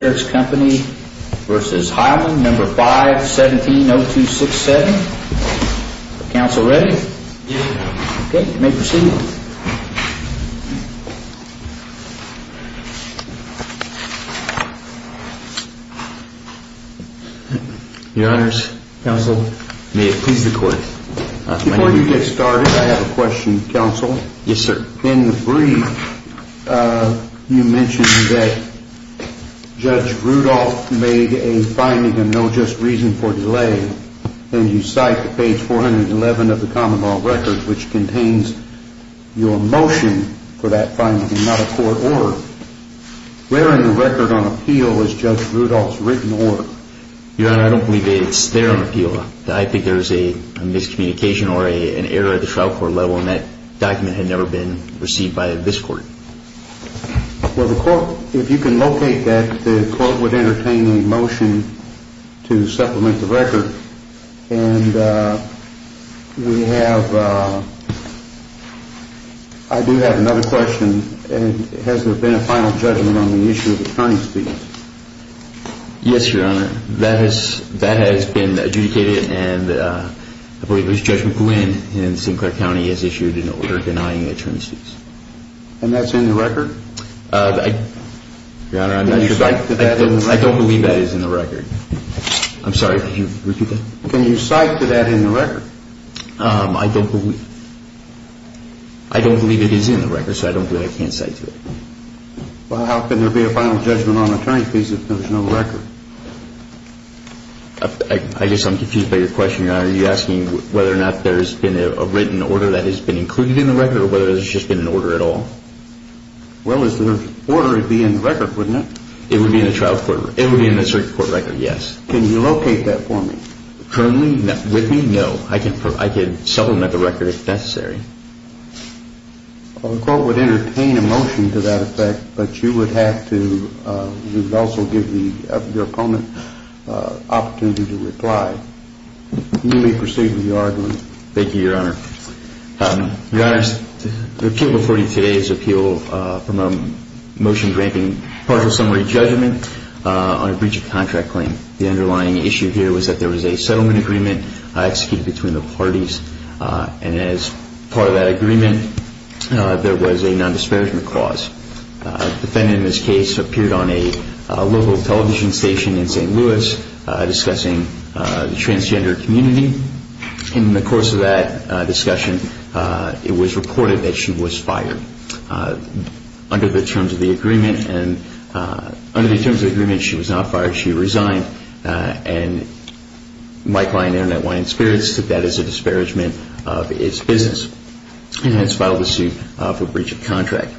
No. 5, 17-0267. Council ready? Yes. Okay, you may proceed. Your Honors. Counsel. May it please the Court. Before you get started, I have a question, counsel. Yes, sir. In the brief, you mentioned that Judge Rudolph made a finding of no just reason for delay, and you cite page 411 of the common law record, which contains your motion for that finding and not a court order. Where in the record on appeal is Judge Rudolph's written order? Your Honor, I don't believe it's there on appeal. I think there's a miscommunication or an error at the trial court level, and that document had never been received by this court. Well, the Court, if you can locate that, the Court would entertain a motion to supplement the record, and we have, I do have another question. Has there been a final judgment on the issue of attorney's fees? Yes, Your Honor. That has been adjudicated, and I believe Judge McGlynn in Sinclair County has issued an order denying attorney's fees. And that's in the record? Your Honor, I'm not sure. I don't believe that is in the record. I'm sorry, can you repeat that? Can you cite to that in the record? I don't believe it is in the record, so I don't believe I can cite to it. Well, how can there be a final judgment on attorney's fees if there's no record? I guess I'm confused by your question, Your Honor. Are you asking whether or not there's been a written order that has been included in the record, or whether there's just been an order at all? Well, if there's an order, it would be in the record, wouldn't it? It would be in the circuit court record, yes. Can you locate that for me? Currently? With me? No. I can supplement the record if necessary. Well, the Court would entertain a motion to that effect, but you would have to, you would also give your opponent an opportunity to reply. You may proceed with your argument. Thank you, Your Honor. Your Honor, the appeal before you today is an appeal from a motion granting partial summary judgment on a breach of contract claim. The underlying issue here was that there was a settlement agreement executed between the parties, and as part of that agreement, there was a nondisparagement clause. The defendant in this case appeared on a local television station in St. Louis discussing the transgender community. In the course of that discussion, it was reported that she was fired. Under the terms of the agreement, she was not fired, she resigned, and Mike Lyon, InternetWyand Spirits took that as a disparagement of its business, and hence filed a suit for breach of contract.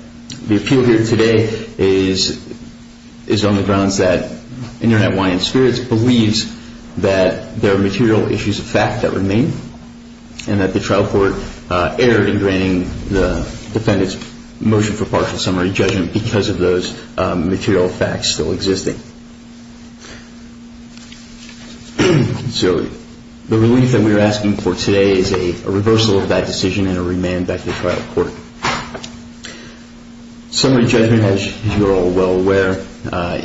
The appeal here today is on the grounds that InternetWyand Spirits believes that there are material issues of fact that remain, and that the trial court erred in granting the defendant's motion for partial summary judgment because of those material facts still existing. So the relief that we are asking for today is a reversal of that decision and a remand back to the trial court. Summary judgment, as you are all well aware,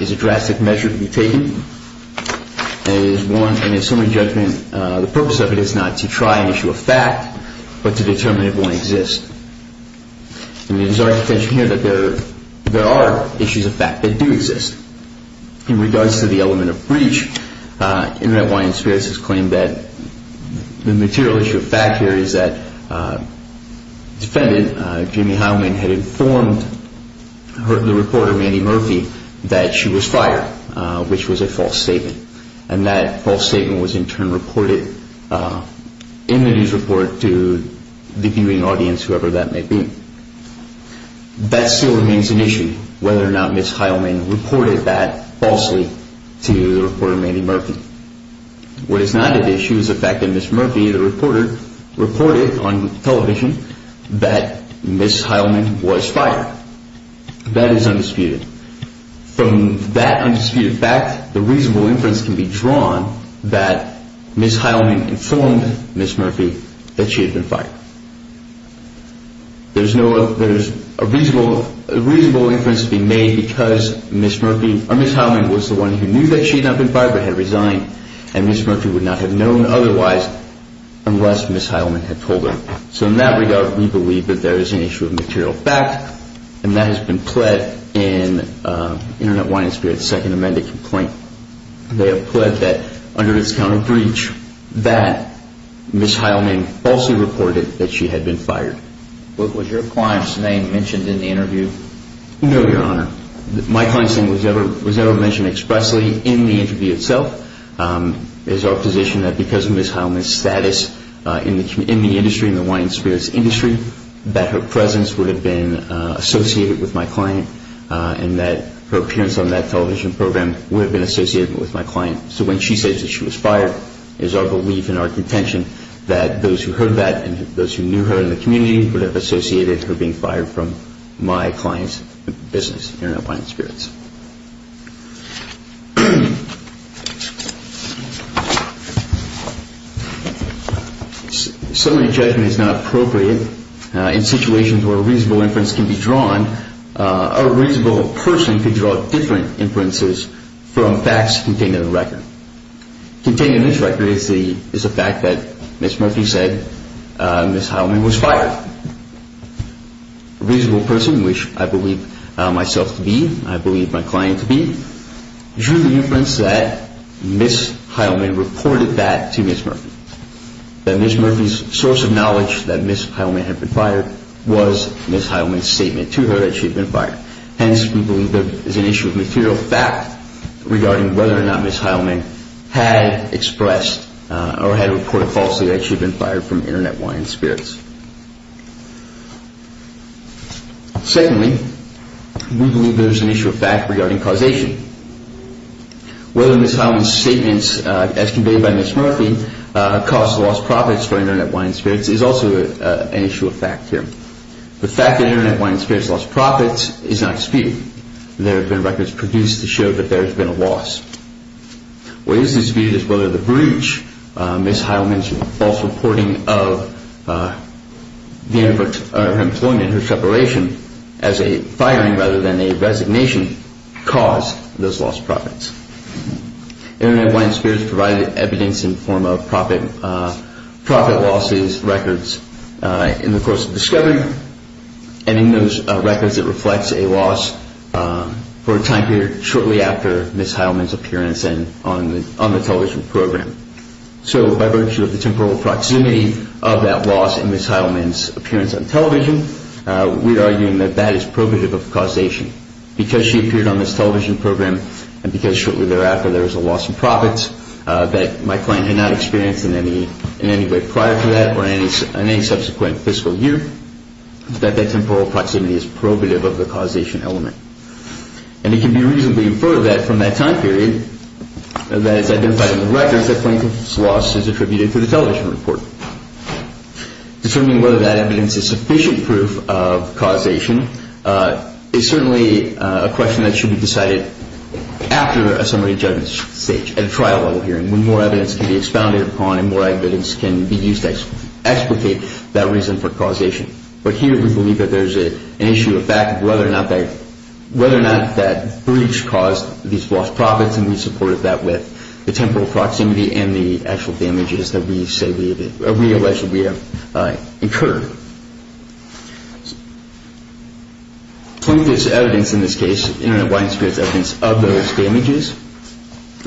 is a drastic measure to be taken, and it is one, in a summary judgment, the purpose of it is not to try an issue of fact, but to determine if one exists. And there's already attention here that there are issues of fact that do exist. In regards to the element of breach, InternetWyand Spirits has claimed that the material issue of fact here is that the defendant, Jimmy Heilman, had informed the reporter, Mandy Murphy, that she was fired, which was a false statement. And that false statement was in turn reported in the news report to the viewing audience, whoever that may be. That still remains an issue, whether or not Ms. Heilman reported that falsely to the reporter, Mandy Murphy. What is not an issue is the fact that Ms. Murphy, the reporter, reported on television that Ms. Heilman was fired. That is undisputed. From that undisputed fact, the reasonable inference can be drawn that Ms. Heilman informed Ms. Murphy that she had been fired. There's a reasonable inference to be made because Ms. Heilman was the one who knew that she had not been fired but had resigned. And Ms. Murphy would not have known otherwise unless Ms. Heilman had told her. So in that regard, we believe that there is an issue of material fact, and that has been pled in InternetWyand Spirits' second amended complaint. They have pled that under this count of breach, that Ms. Heilman falsely reported that she had been fired. What was your client's name mentioned in the interview? No, Your Honor. My client's name was never mentioned expressly in the interview itself. It is our position that because of Ms. Heilman's status in the industry, in the Wyand Spirits industry, that her presence would have been associated with my client and that her appearance on that television program would have been associated with my client. So when she says that she was fired, it is our belief and our contention that those who heard that and those who knew her in the community would have associated her being fired from my client's business, InternetWyand Spirits. Summary judgment is not appropriate. In situations where a reasonable inference can be drawn, a reasonable person could draw different inferences from facts contained in the record. Contained in this record is the fact that Ms. Murphy said Ms. Heilman was fired. A reasonable person, which I believe myself to be, I believe my client to be, drew the inference that Ms. Heilman reported that to Ms. Murphy. That Ms. Murphy's source of knowledge that Ms. Heilman had been fired was Ms. Heilman's statement to her that she had been fired. Hence, we believe there is an issue of material fact regarding whether or not Ms. Heilman had expressed or had reported falsely that she had been fired from InternetWyand Spirits. Secondly, we believe there is an issue of fact regarding causation. Whether Ms. Heilman's statements, as conveyed by Ms. Murphy, caused lost profits for InternetWyand Spirits is also an issue of fact here. The fact that InternetWyand Spirits lost profits is not the only evidence InternetWyand Spirits produced to show that there has been a loss. What is disputed is whether the breach, Ms. Heilman's false reporting of the end of her employment, her separation, as a firing rather than a resignation, caused those lost profits. InternetWyand Spirits provided evidence in the form of profit losses records in the course of discovery, and in those records it reflects a loss for a time period shortly after Ms. Heilman's appearance on the television program. So, by virtue of the temporal proximity of that loss in Ms. Heilman's appearance on television, we are arguing that that is probative of causation. Because she appeared on this television program and because shortly thereafter there was a loss in profits that my client had not experienced in any way prior to that or in any subsequent fiscal year, that that temporal proximity is probative of the causation element. And it can be reasonably inferred that from that time period that is identified in the records that plaintiff's loss is attributed to the television report. Determining whether that evidence is sufficient proof of causation is certainly a question that should be decided after a summary judgment stage, at a trial level hearing, when more evidence can be expounded upon and more evidence can be used to explicate that reason for causation. But here we believe that there's an issue of fact of whether or not that breach caused these lost profits, and we supported that with the temporal proximity and the actual damages that we say we have, or realize that we have incurred. Plaintiff's evidence in this case, Internet of Widened Spirits evidence of those damages,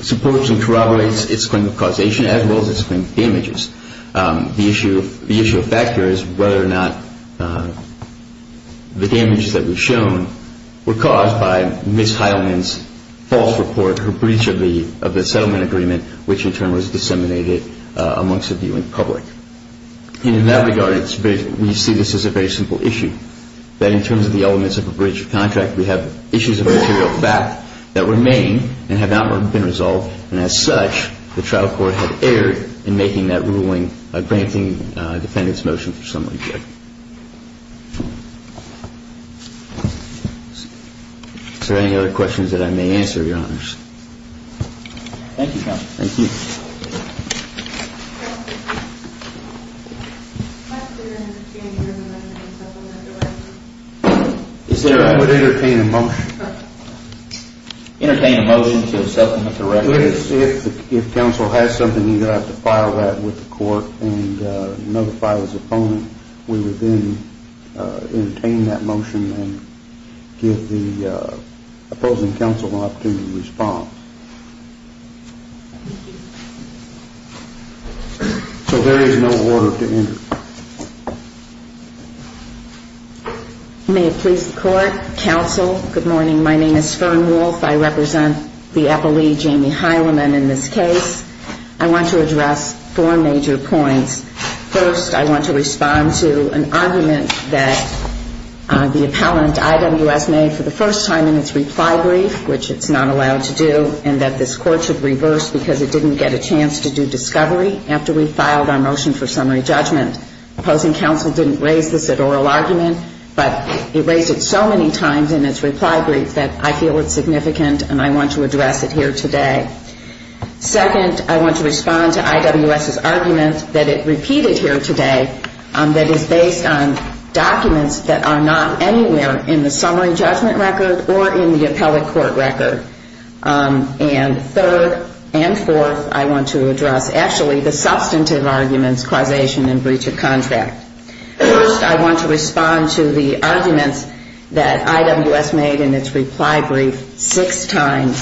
supports and corroborates its claim of causation as well as its claim of damages. The issue of fact here is whether or not the damages that we've shown were caused by Ms. Heilman's false report, her breach of the settlement agreement, which in turn was disseminated amongst the viewing public. And in that regard, we see this as a very simple issue, that in terms of the elements of a breach of contract, we have issues of material fact that remain and have not been resolved, and as such, the trial court had erred in making that ruling by granting a defendant's motion for summary judgment. Is there any other questions that I may answer, Your Honors? Thank you, Counsel. Thank you. I would entertain a motion. Entertain a motion to accept the record. If counsel has something, you're going to have to file that with the court and notify his opponent. We would then So there is no order to enter. May it please the court. Counsel, good morning. My name is Fern Wolfe. I represent the appellee, Jamie Heilman, in this case. I want to address four major points. First, I want to respond to an argument that the appellant IWS made for the first time in its reply brief, which it's not allowed to do, and that this court should reverse because it didn't get a chance to do discovery after we filed our motion for summary judgment. The opposing counsel didn't raise this at oral argument, but it raised it so many times in its reply brief that I feel it's significant and I want to address it here today. Second, I want to respond to IWS's argument that it repeated here today, that it's based on documents that are not anywhere in the summary judgment record or in the appellate court record. And third and fourth, I want to respond to the substantive arguments, causation and breach of contract. First, I want to respond to the arguments that IWS made in its reply brief six times,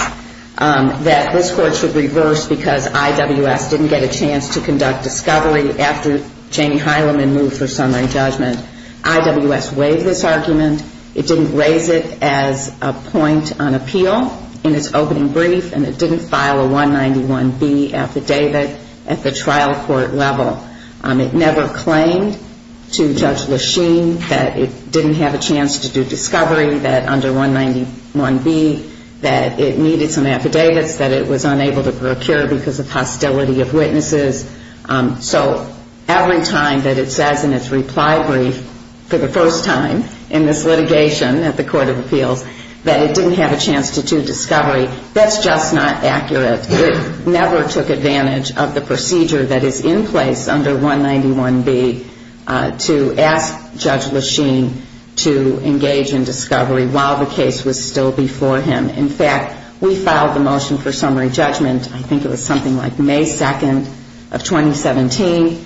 that this court should reverse because IWS didn't get a chance to conduct discovery after Jamie Heilman moved for summary judgment. IWS waived this argument. It didn't raise it as a point on appeal in its opening brief, and it didn't file a 191B affidavit at the trial court level. It never claimed to Judge Lachine that it didn't have a chance to do discovery, that under 191B that it needed some affidavits, that it was unable to procure because of hostility of witnesses. So every time that it says in its reply brief for the first time in this litigation at the Court of Appeals that it didn't have a chance to do discovery, that's just not accurate. It never took advantage of the procedure that is in place under 191B to ask Judge Lachine to engage in discovery while the case was still before him. In fact, we filed the motion for summary judgment, I think it was something like May 2nd of 2017.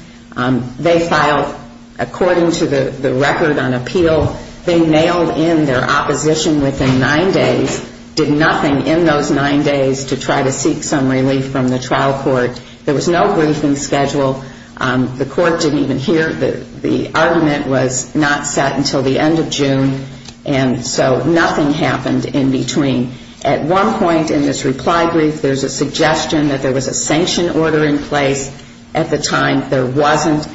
They filed according to the record on appeal. They nailed in their opposition within nine days, did nothing in those nine days to try to seek some relief from the trial court. There was no briefing schedule. The court didn't even hear the argument was not set until the end of June, and so nothing happened in between. At one point in this reply brief, there's a suggestion that there was a sanction order in place. At the time, there wasn't.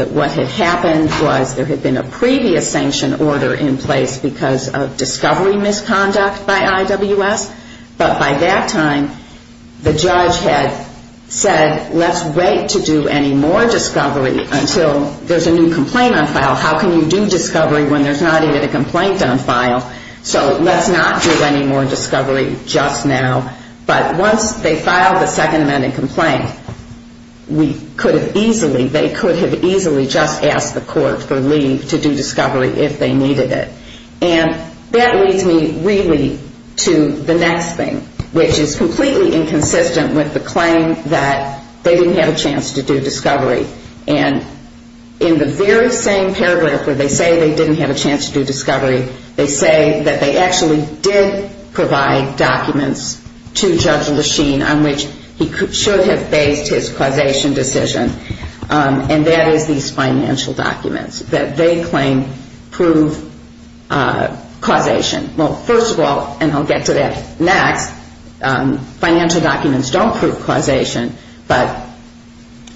What had happened was there had been a previous sanction order in place because of discovery misconduct by IWS, but by that time, the judge had said, let's wait to do any more discovery until there's a new complaint on file. How can you do discovery when there's not even a complaint on file? So let's not do any more discovery just now. But once they filed the Second Amendment complaint, we could have easily, they could have easily just asked the court for leave to do discovery if they needed it. And that leads me really to the next thing, which is the financial documents. It's completely inconsistent with the claim that they didn't have a chance to do discovery. And in the very same paragraph where they say they didn't have a chance to do discovery, they say that they actually did provide documents to Judge Lechine on which he should have based his causation decision, and that is these financial documents that they claim prove causation. Well, first of all, and I'll get to that next, the financial documents don't prove causation, but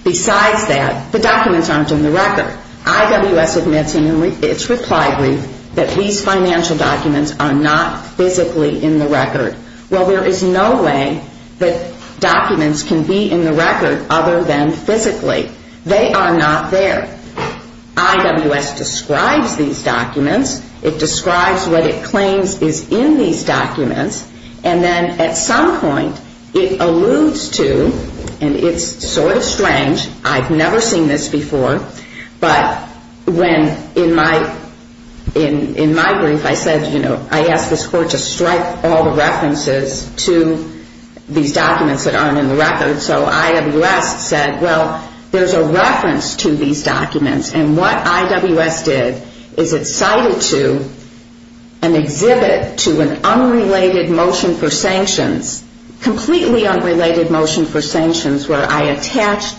besides that, the documents aren't in the record. IWS admits in its reply brief that these financial documents are not physically in the record. Well, there is no way that documents can be in the record other than physically. They are not there. IWS describes these documents. It describes what it claims is in these documents, and then at some point, it says that the documents are not in the record. At some point, it alludes to, and it's sort of strange, I've never seen this before, but when in my brief, I said, you know, I asked this court to strike all the references to these documents that aren't in the record. So IWS said, well, there's a reference to these documents, and what IWS did is it cited to an exhibit to an unrelated motion for sanctions. Well, there's a reference to these documents, and what IWS did is it cited to an completely unrelated motion for sanctions where I attached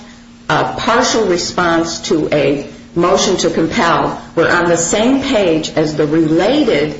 a partial response to a motion to compel where on the same page as the related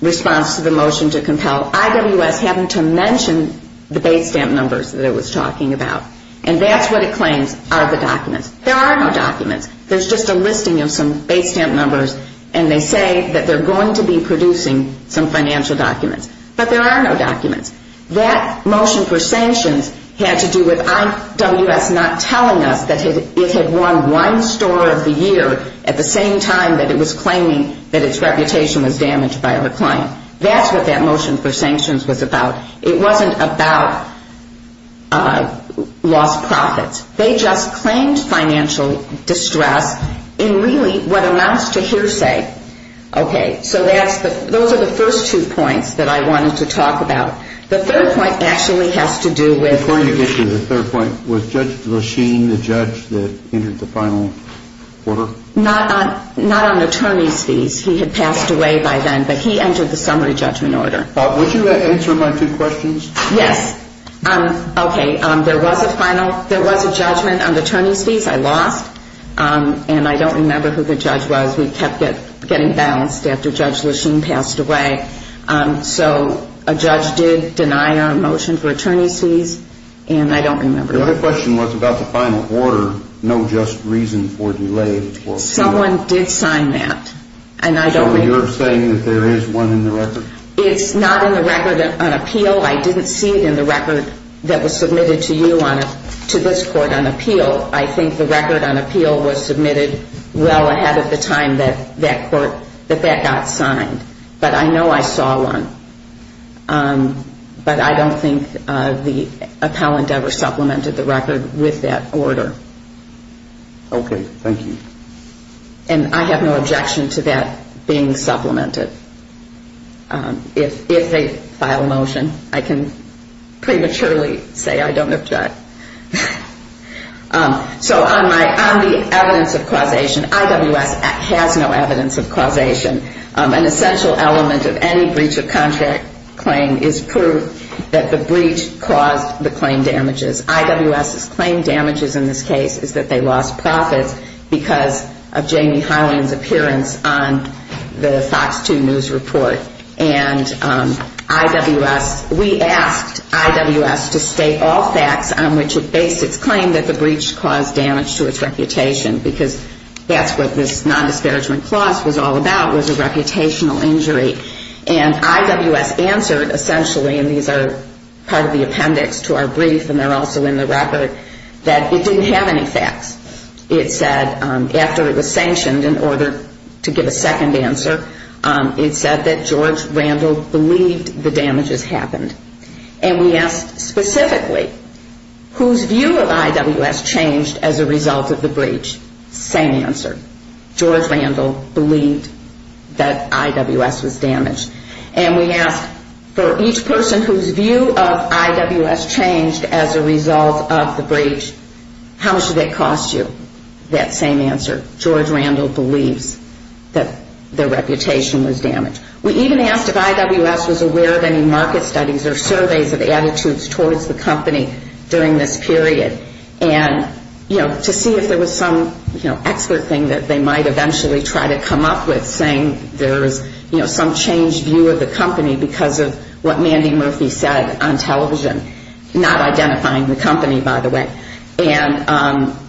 response to the motion to compel, IWS happened to mention the base stamp numbers that it was talking about, and that's what it claims are the documents. There are no documents. There's just a listing of some base stamp numbers, and they say that they're going to be producing some financial documents, but there are no documents. So that motion for sanctions had to do with IWS not telling us that it had won one store of the year at the same time that it was claiming that its reputation was damaged by a client. That's what that motion for sanctions was about. It wasn't about lost profits. They just claimed financial distress in really what amounts to hearsay. Okay. So that's the, those are the first two points that I wanted to talk about. The third point that I wanted to talk about actually has to do with... Before you get to the third point, was Judge Lachine the judge that entered the final order? Not on attorney's fees. He had passed away by then, but he entered the summary judgment order. Would you answer my two questions? Yes. Okay. There was a final, there was a judgment on attorney's fees. I lost, and I don't remember who the judge was. We kept getting balanced after Judge Lachine passed away. So a judge did deny our motion for attorney's fees, and I don't remember. Your other question was about the final order, no just reason for delay. Someone did sign that, and I don't remember. So you're saying that there is one in the record? It's not in the record on appeal. I didn't see it in the record that was submitted to you on, to this court on appeal. I think the record on appeal was submitted well ahead of the time that that court, that that got signed. But I know I didn't see it in the record on appeal. I don't remember. Okay. Okay. Thank you. I saw one, but I don't think the appellant ever supplemented the record with that order. Okay. Thank you. And I have no objection to that being supplemented. If they file a motion, I can prematurely say I don't object. So on the evidence of causation, IWS has no evidence of causation. An essential element of any breach of contract claim is proof that the breach caused the claim damages. IWS's claim damages in this case is that they lost profits because of Jamie Hyland's appearance on the Fox 2 News report. And IWS, we asked IWS to state all facts on what happened. And IWS did not. And IWS stated the facts on which it based its claim that the breach caused damage to its reputation, because that's what this nondisparagement clause was all about, was a reputational injury. And IWS answered, essentially, and these are part of the appendix to our brief and they're also in the record, that it didn't have any facts. It said after it was sanctioned, in order to give a second answer, it said that George Randle believed the damage has happened. And we asked specifically, whose view of IWS changed as a result of the breach? Same answer. George Randle believed that IWS was damaged. And we asked for each person whose view of IWS changed as a result of the breach, how much did it cost you? That same answer. George Randle believes that the reputation was damaged. We even asked if IWS was aware of any market studies or surveys of attitudes towards the company during this period. And, you know, to see if there was some, you know, expert thing that they might eventually try to come up with, saying there is, you know, some changed view of the company because of what Mandy Murphy said on television, not identifying the company, by the way. And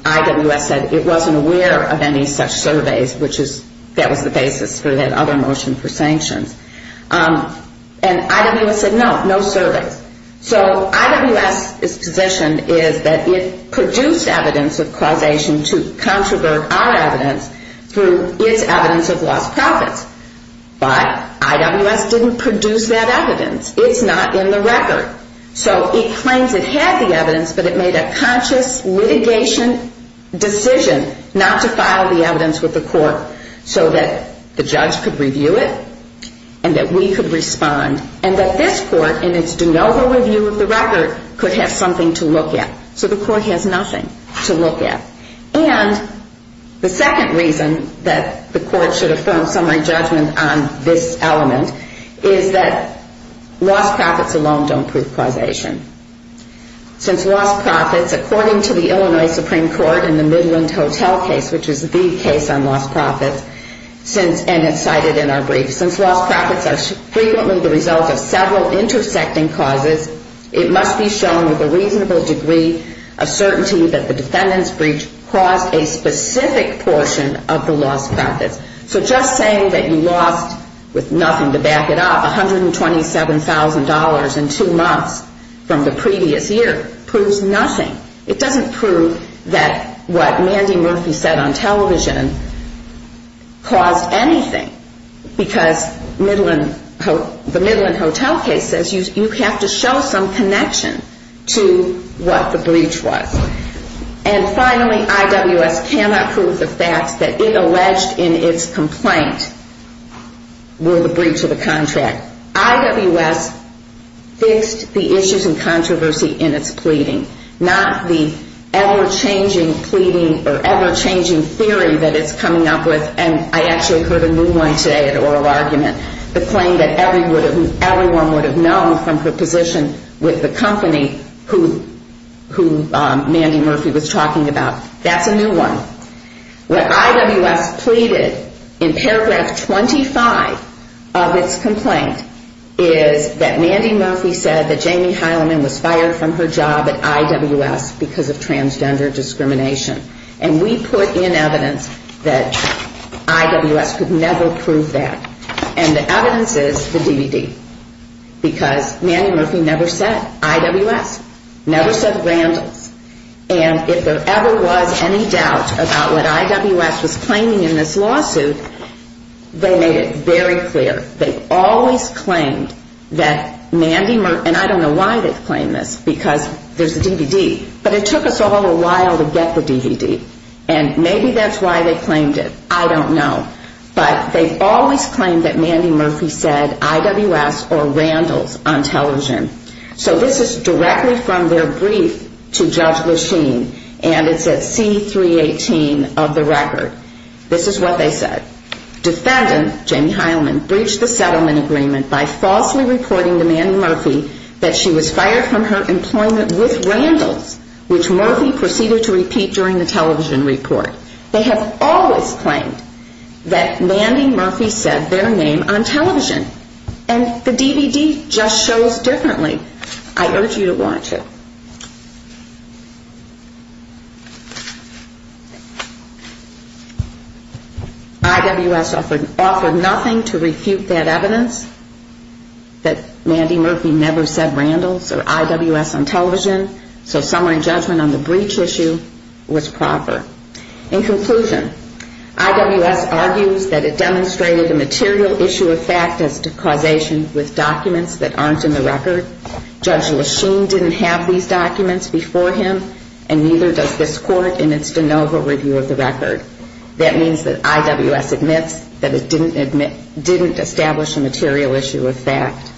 IWS said it wasn't aware of any such surveys, which is, that was the basis for that other motion for sanction. And IWS said no, no surveys. So IWS's position is that it produced evidence of causation to controvert our evidence through its evidence of lost profits. But IWS didn't produce that evidence. It's not in the record. So it claims it had the evidence, but it made a conscious litigation decision not to file the evidence with the court so that the judge could review it. And that we could respond. And that this court, in its de novo review of the record, could have something to look at. So the court has nothing to look at. And the second reason that the court should affirm summary judgment on this element is that lost profits alone don't prove causation. Since lost profits, according to the Illinois Supreme Court in the Midland Hotel case, which is the case on lost profits, and it's cited in our brief, since lost profits are frequently the result of several intersecting causes, it must be shown with a reasonable degree of certainty that the defendant's breach caused a specific portion of the lost profits. So just saying that you lost, with nothing to back it up, $127,000 in two months from the previous year proves nothing. It doesn't prove that what Mandy Murphy said on television caused anything. Because the Midland Hotel case says you have to show some connection to what the breach was. And finally, IWS cannot prove the facts that it alleged in its complaint were the breach of the contract. IWS fixed the issues and controversy in its pleading. Not the ever-changing pleading or ever-changing theory that it's coming up with. And I actually heard a new one today at oral argument. The claim that everyone would have known from her position with the company who Mandy Murphy was talking about. That's a new one. What IWS pleaded in paragraph 25 of its complaint is that Mandy Murphy said that Jamie Heileman was fired from her job at IWS because of transgender discrimination. And we put in evidence that IWS could never prove that. And the evidence is the DVD. Because Mandy Murphy never said IWS. Never said Randalls. And if there ever was any doubt about what IWS was claiming in this lawsuit, they made it very clear. They always claimed that Mandy Murphy said IWS or Randalls on television. So this is directly from their brief to Judge Lachine. And it's at C318 of the record. This is what they said. Defendant Jamie Heileman breached the settlement agreement by falsely reporting to Mandy Murphy that she was fired from her employment with Randalls, which Murphy proceeded to repeat during the television report. They have always claimed that Mandy Murphy said their name on television. And the DVD just shows differently. I urge you to watch it. IWS offered nothing to refute that evidence that Mandy Murphy never said Randalls or IWS on television. So summary judgment on the breach issue was proper. In conclusion, IWS argues that it demonstrated a material issue of fact as to causation with documents that aren't in the record. Judge Lachine didn't have these documents before him and neither does this court in its de novo review of the record. That means that IWS admits that it didn't establish a material issue of fact.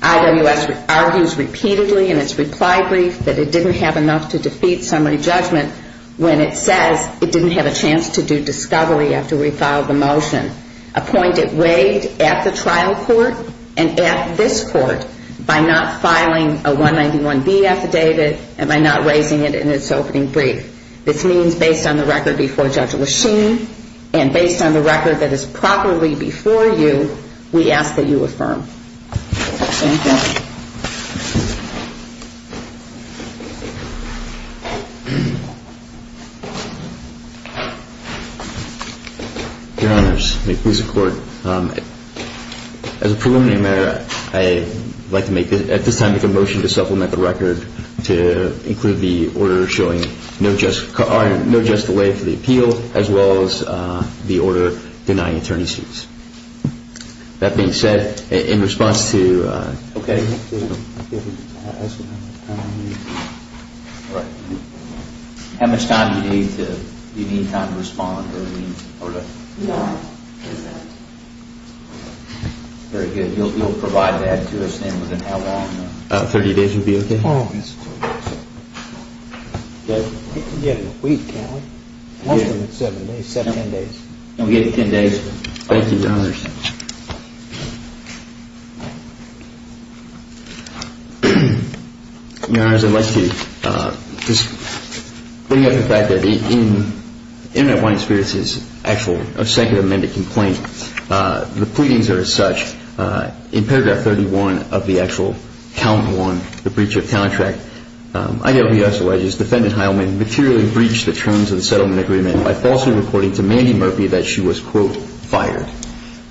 IWS argues repeatedly in its reply brief that it didn't have enough to defeat summary judgment when it says it didn't have a chance to do discovery after we filed the motion. A point it waived at the trial court and at this court by not filing a 191B affidavit and by not raising it in its opening brief. This means based on the record before Judge Lachine and based on the record that is properly before you, we ask that you affirm. Thank you. Your Honor, may it please the court. As a preliminary matter, I'd like to at this time make a motion to supplement the record to include the order showing no just delay for the appeal as well as the order denying attorney's suits. That being said, in response to… Okay. How much time do you need? Do you need time to respond? No. Very good. You'll provide that to us and within how long? About 30 days would be okay. Oh. Okay. We can get it in a week, can't we? Yeah. Oh, I see. So you haven't got a 10-day period. No, we've got a 10-day period. No, we have a 10-day period. Thank you, Your Honor. No, we have a 10 days. Thank you, Your Honor. Your Honor, I'd like to just bring up the fact that in Internet Wine Experience's actual second amendment complaint the pleadings are as such in paragraph 31 of the actual count one, the breach of contract, IWS alleges defendant Heilman materially breached the terms of the settlement agreement by falsely reporting to Mandy Murphy that she was, quote, fired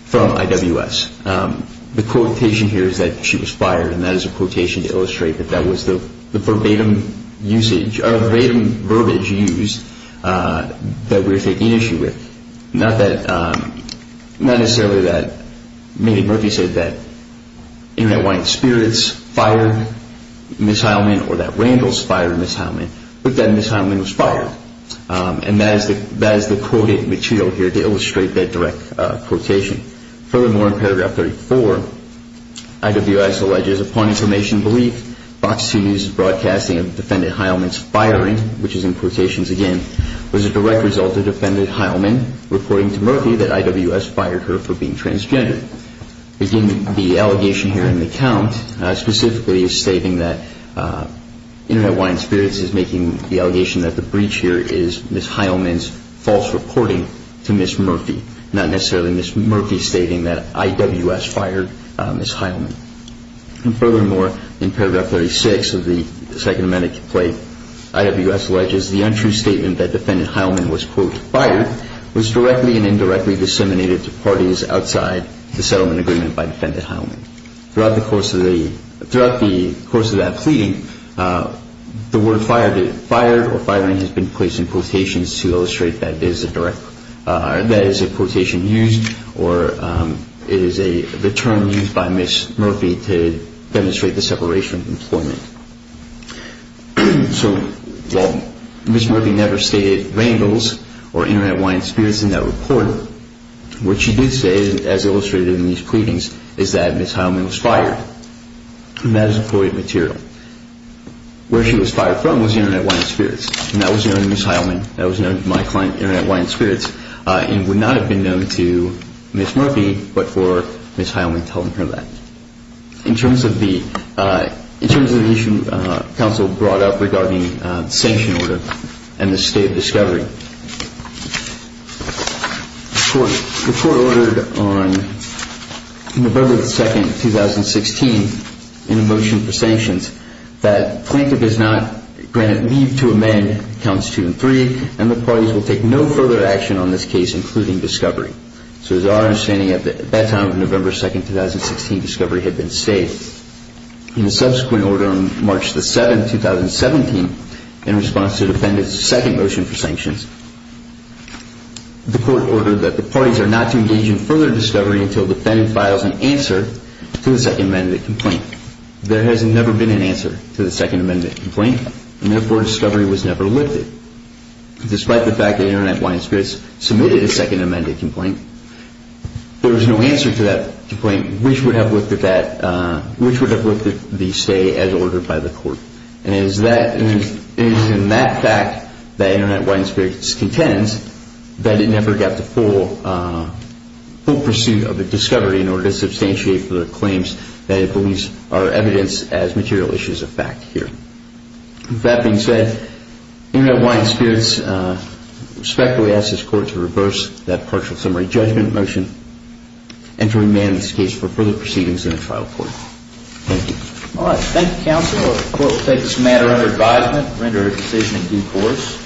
from IWS. The quotation here is that she was fired, and that is a quotation to illustrate that that was the verbatim usage or verbatim verbiage used that we're taking issue with. Not that, not necessarily that Mandy Murphy said that Internet Wine Experience fired Ms. Heilman or that Randall's fired Ms. Heilman, but that Ms. Heilman was fired. And that is the quoted material here to illustrate that direct quotation. Furthermore, in paragraph 34, IWS alleges upon information belief, Fox 2 News' broadcasting of defendant Heilman's firing, which is in quotations again, was a direct result of defendant Heilman reporting to Murphy that IWS fired her for being transgender. Again, the allegation here in the count specifically is stating that Internet Wine Experience is making the allegation that the breach here is Ms. Heilman's false reporting to Ms. Murphy, not necessarily Ms. Murphy stating that IWS fired Ms. Heilman. And furthermore, in paragraph 36 of the Second Amendment complaint, IWS alleges the untrue statement that defendant Heilman was, quote, fired was directly and indirectly disseminated to parties outside the settlement agreement by defendant Heilman. And throughout the course of the, throughout the course of that pleading, the word fired, fired or firing has been placed in quotations to illustrate that is a direct, that is a quotation used or it is a term used by Ms. Murphy to demonstrate the separation of employment. So Ms. Murphy never stated rainbows or Internet Wine Experience in that report. What she did say, as illustrated in these pleadings, is that Ms. Heilman was fired. And that is employment material. Where she was fired from was Internet Wine Experience. And that was known to Ms. Heilman, that was known to my client, Internet Wine Experience, and would not have been known to Ms. Murphy but for Ms. Heilman telling her that. In terms of the, in terms of the issue counsel brought up regarding the sanction order and the state of discovery, the court ordered on November 2, 2016, in a motion for sanctions, that the plaintiff is not granted leave to amend counts two and three and the parties will take no further action on this case, including discovery. So it is our understanding at that time of November 2, 2016, discovery had been stayed. In the subsequent order on March 7, 2017, in response to the defendant's second motion for sanctions, the court ordered that the parties are not to engage in further discovery until the defendant files an answer to the second amendment complaint. There has never been an answer to the second amendment complaint and therefore discovery was never lifted. Despite the fact that Internet Wine Experience submitted a second amendment complaint, there was no answer to that complaint which would have lifted that, which would have lifted the stay as ordered by the court. And it is in that fact that Internet Wine Experience contends that it never got the full pursuit of the discovery in order to substantiate for the claims that it believes are evidence as material issues of fact here. With that being said, Internet Wine Experience respectfully asks this court to reverse that partial summary judgment motion and to remand this case for further proceedings in a trial court. Thank you. Thank you counsel. The court will take this matter under advisement and render a decision in due course.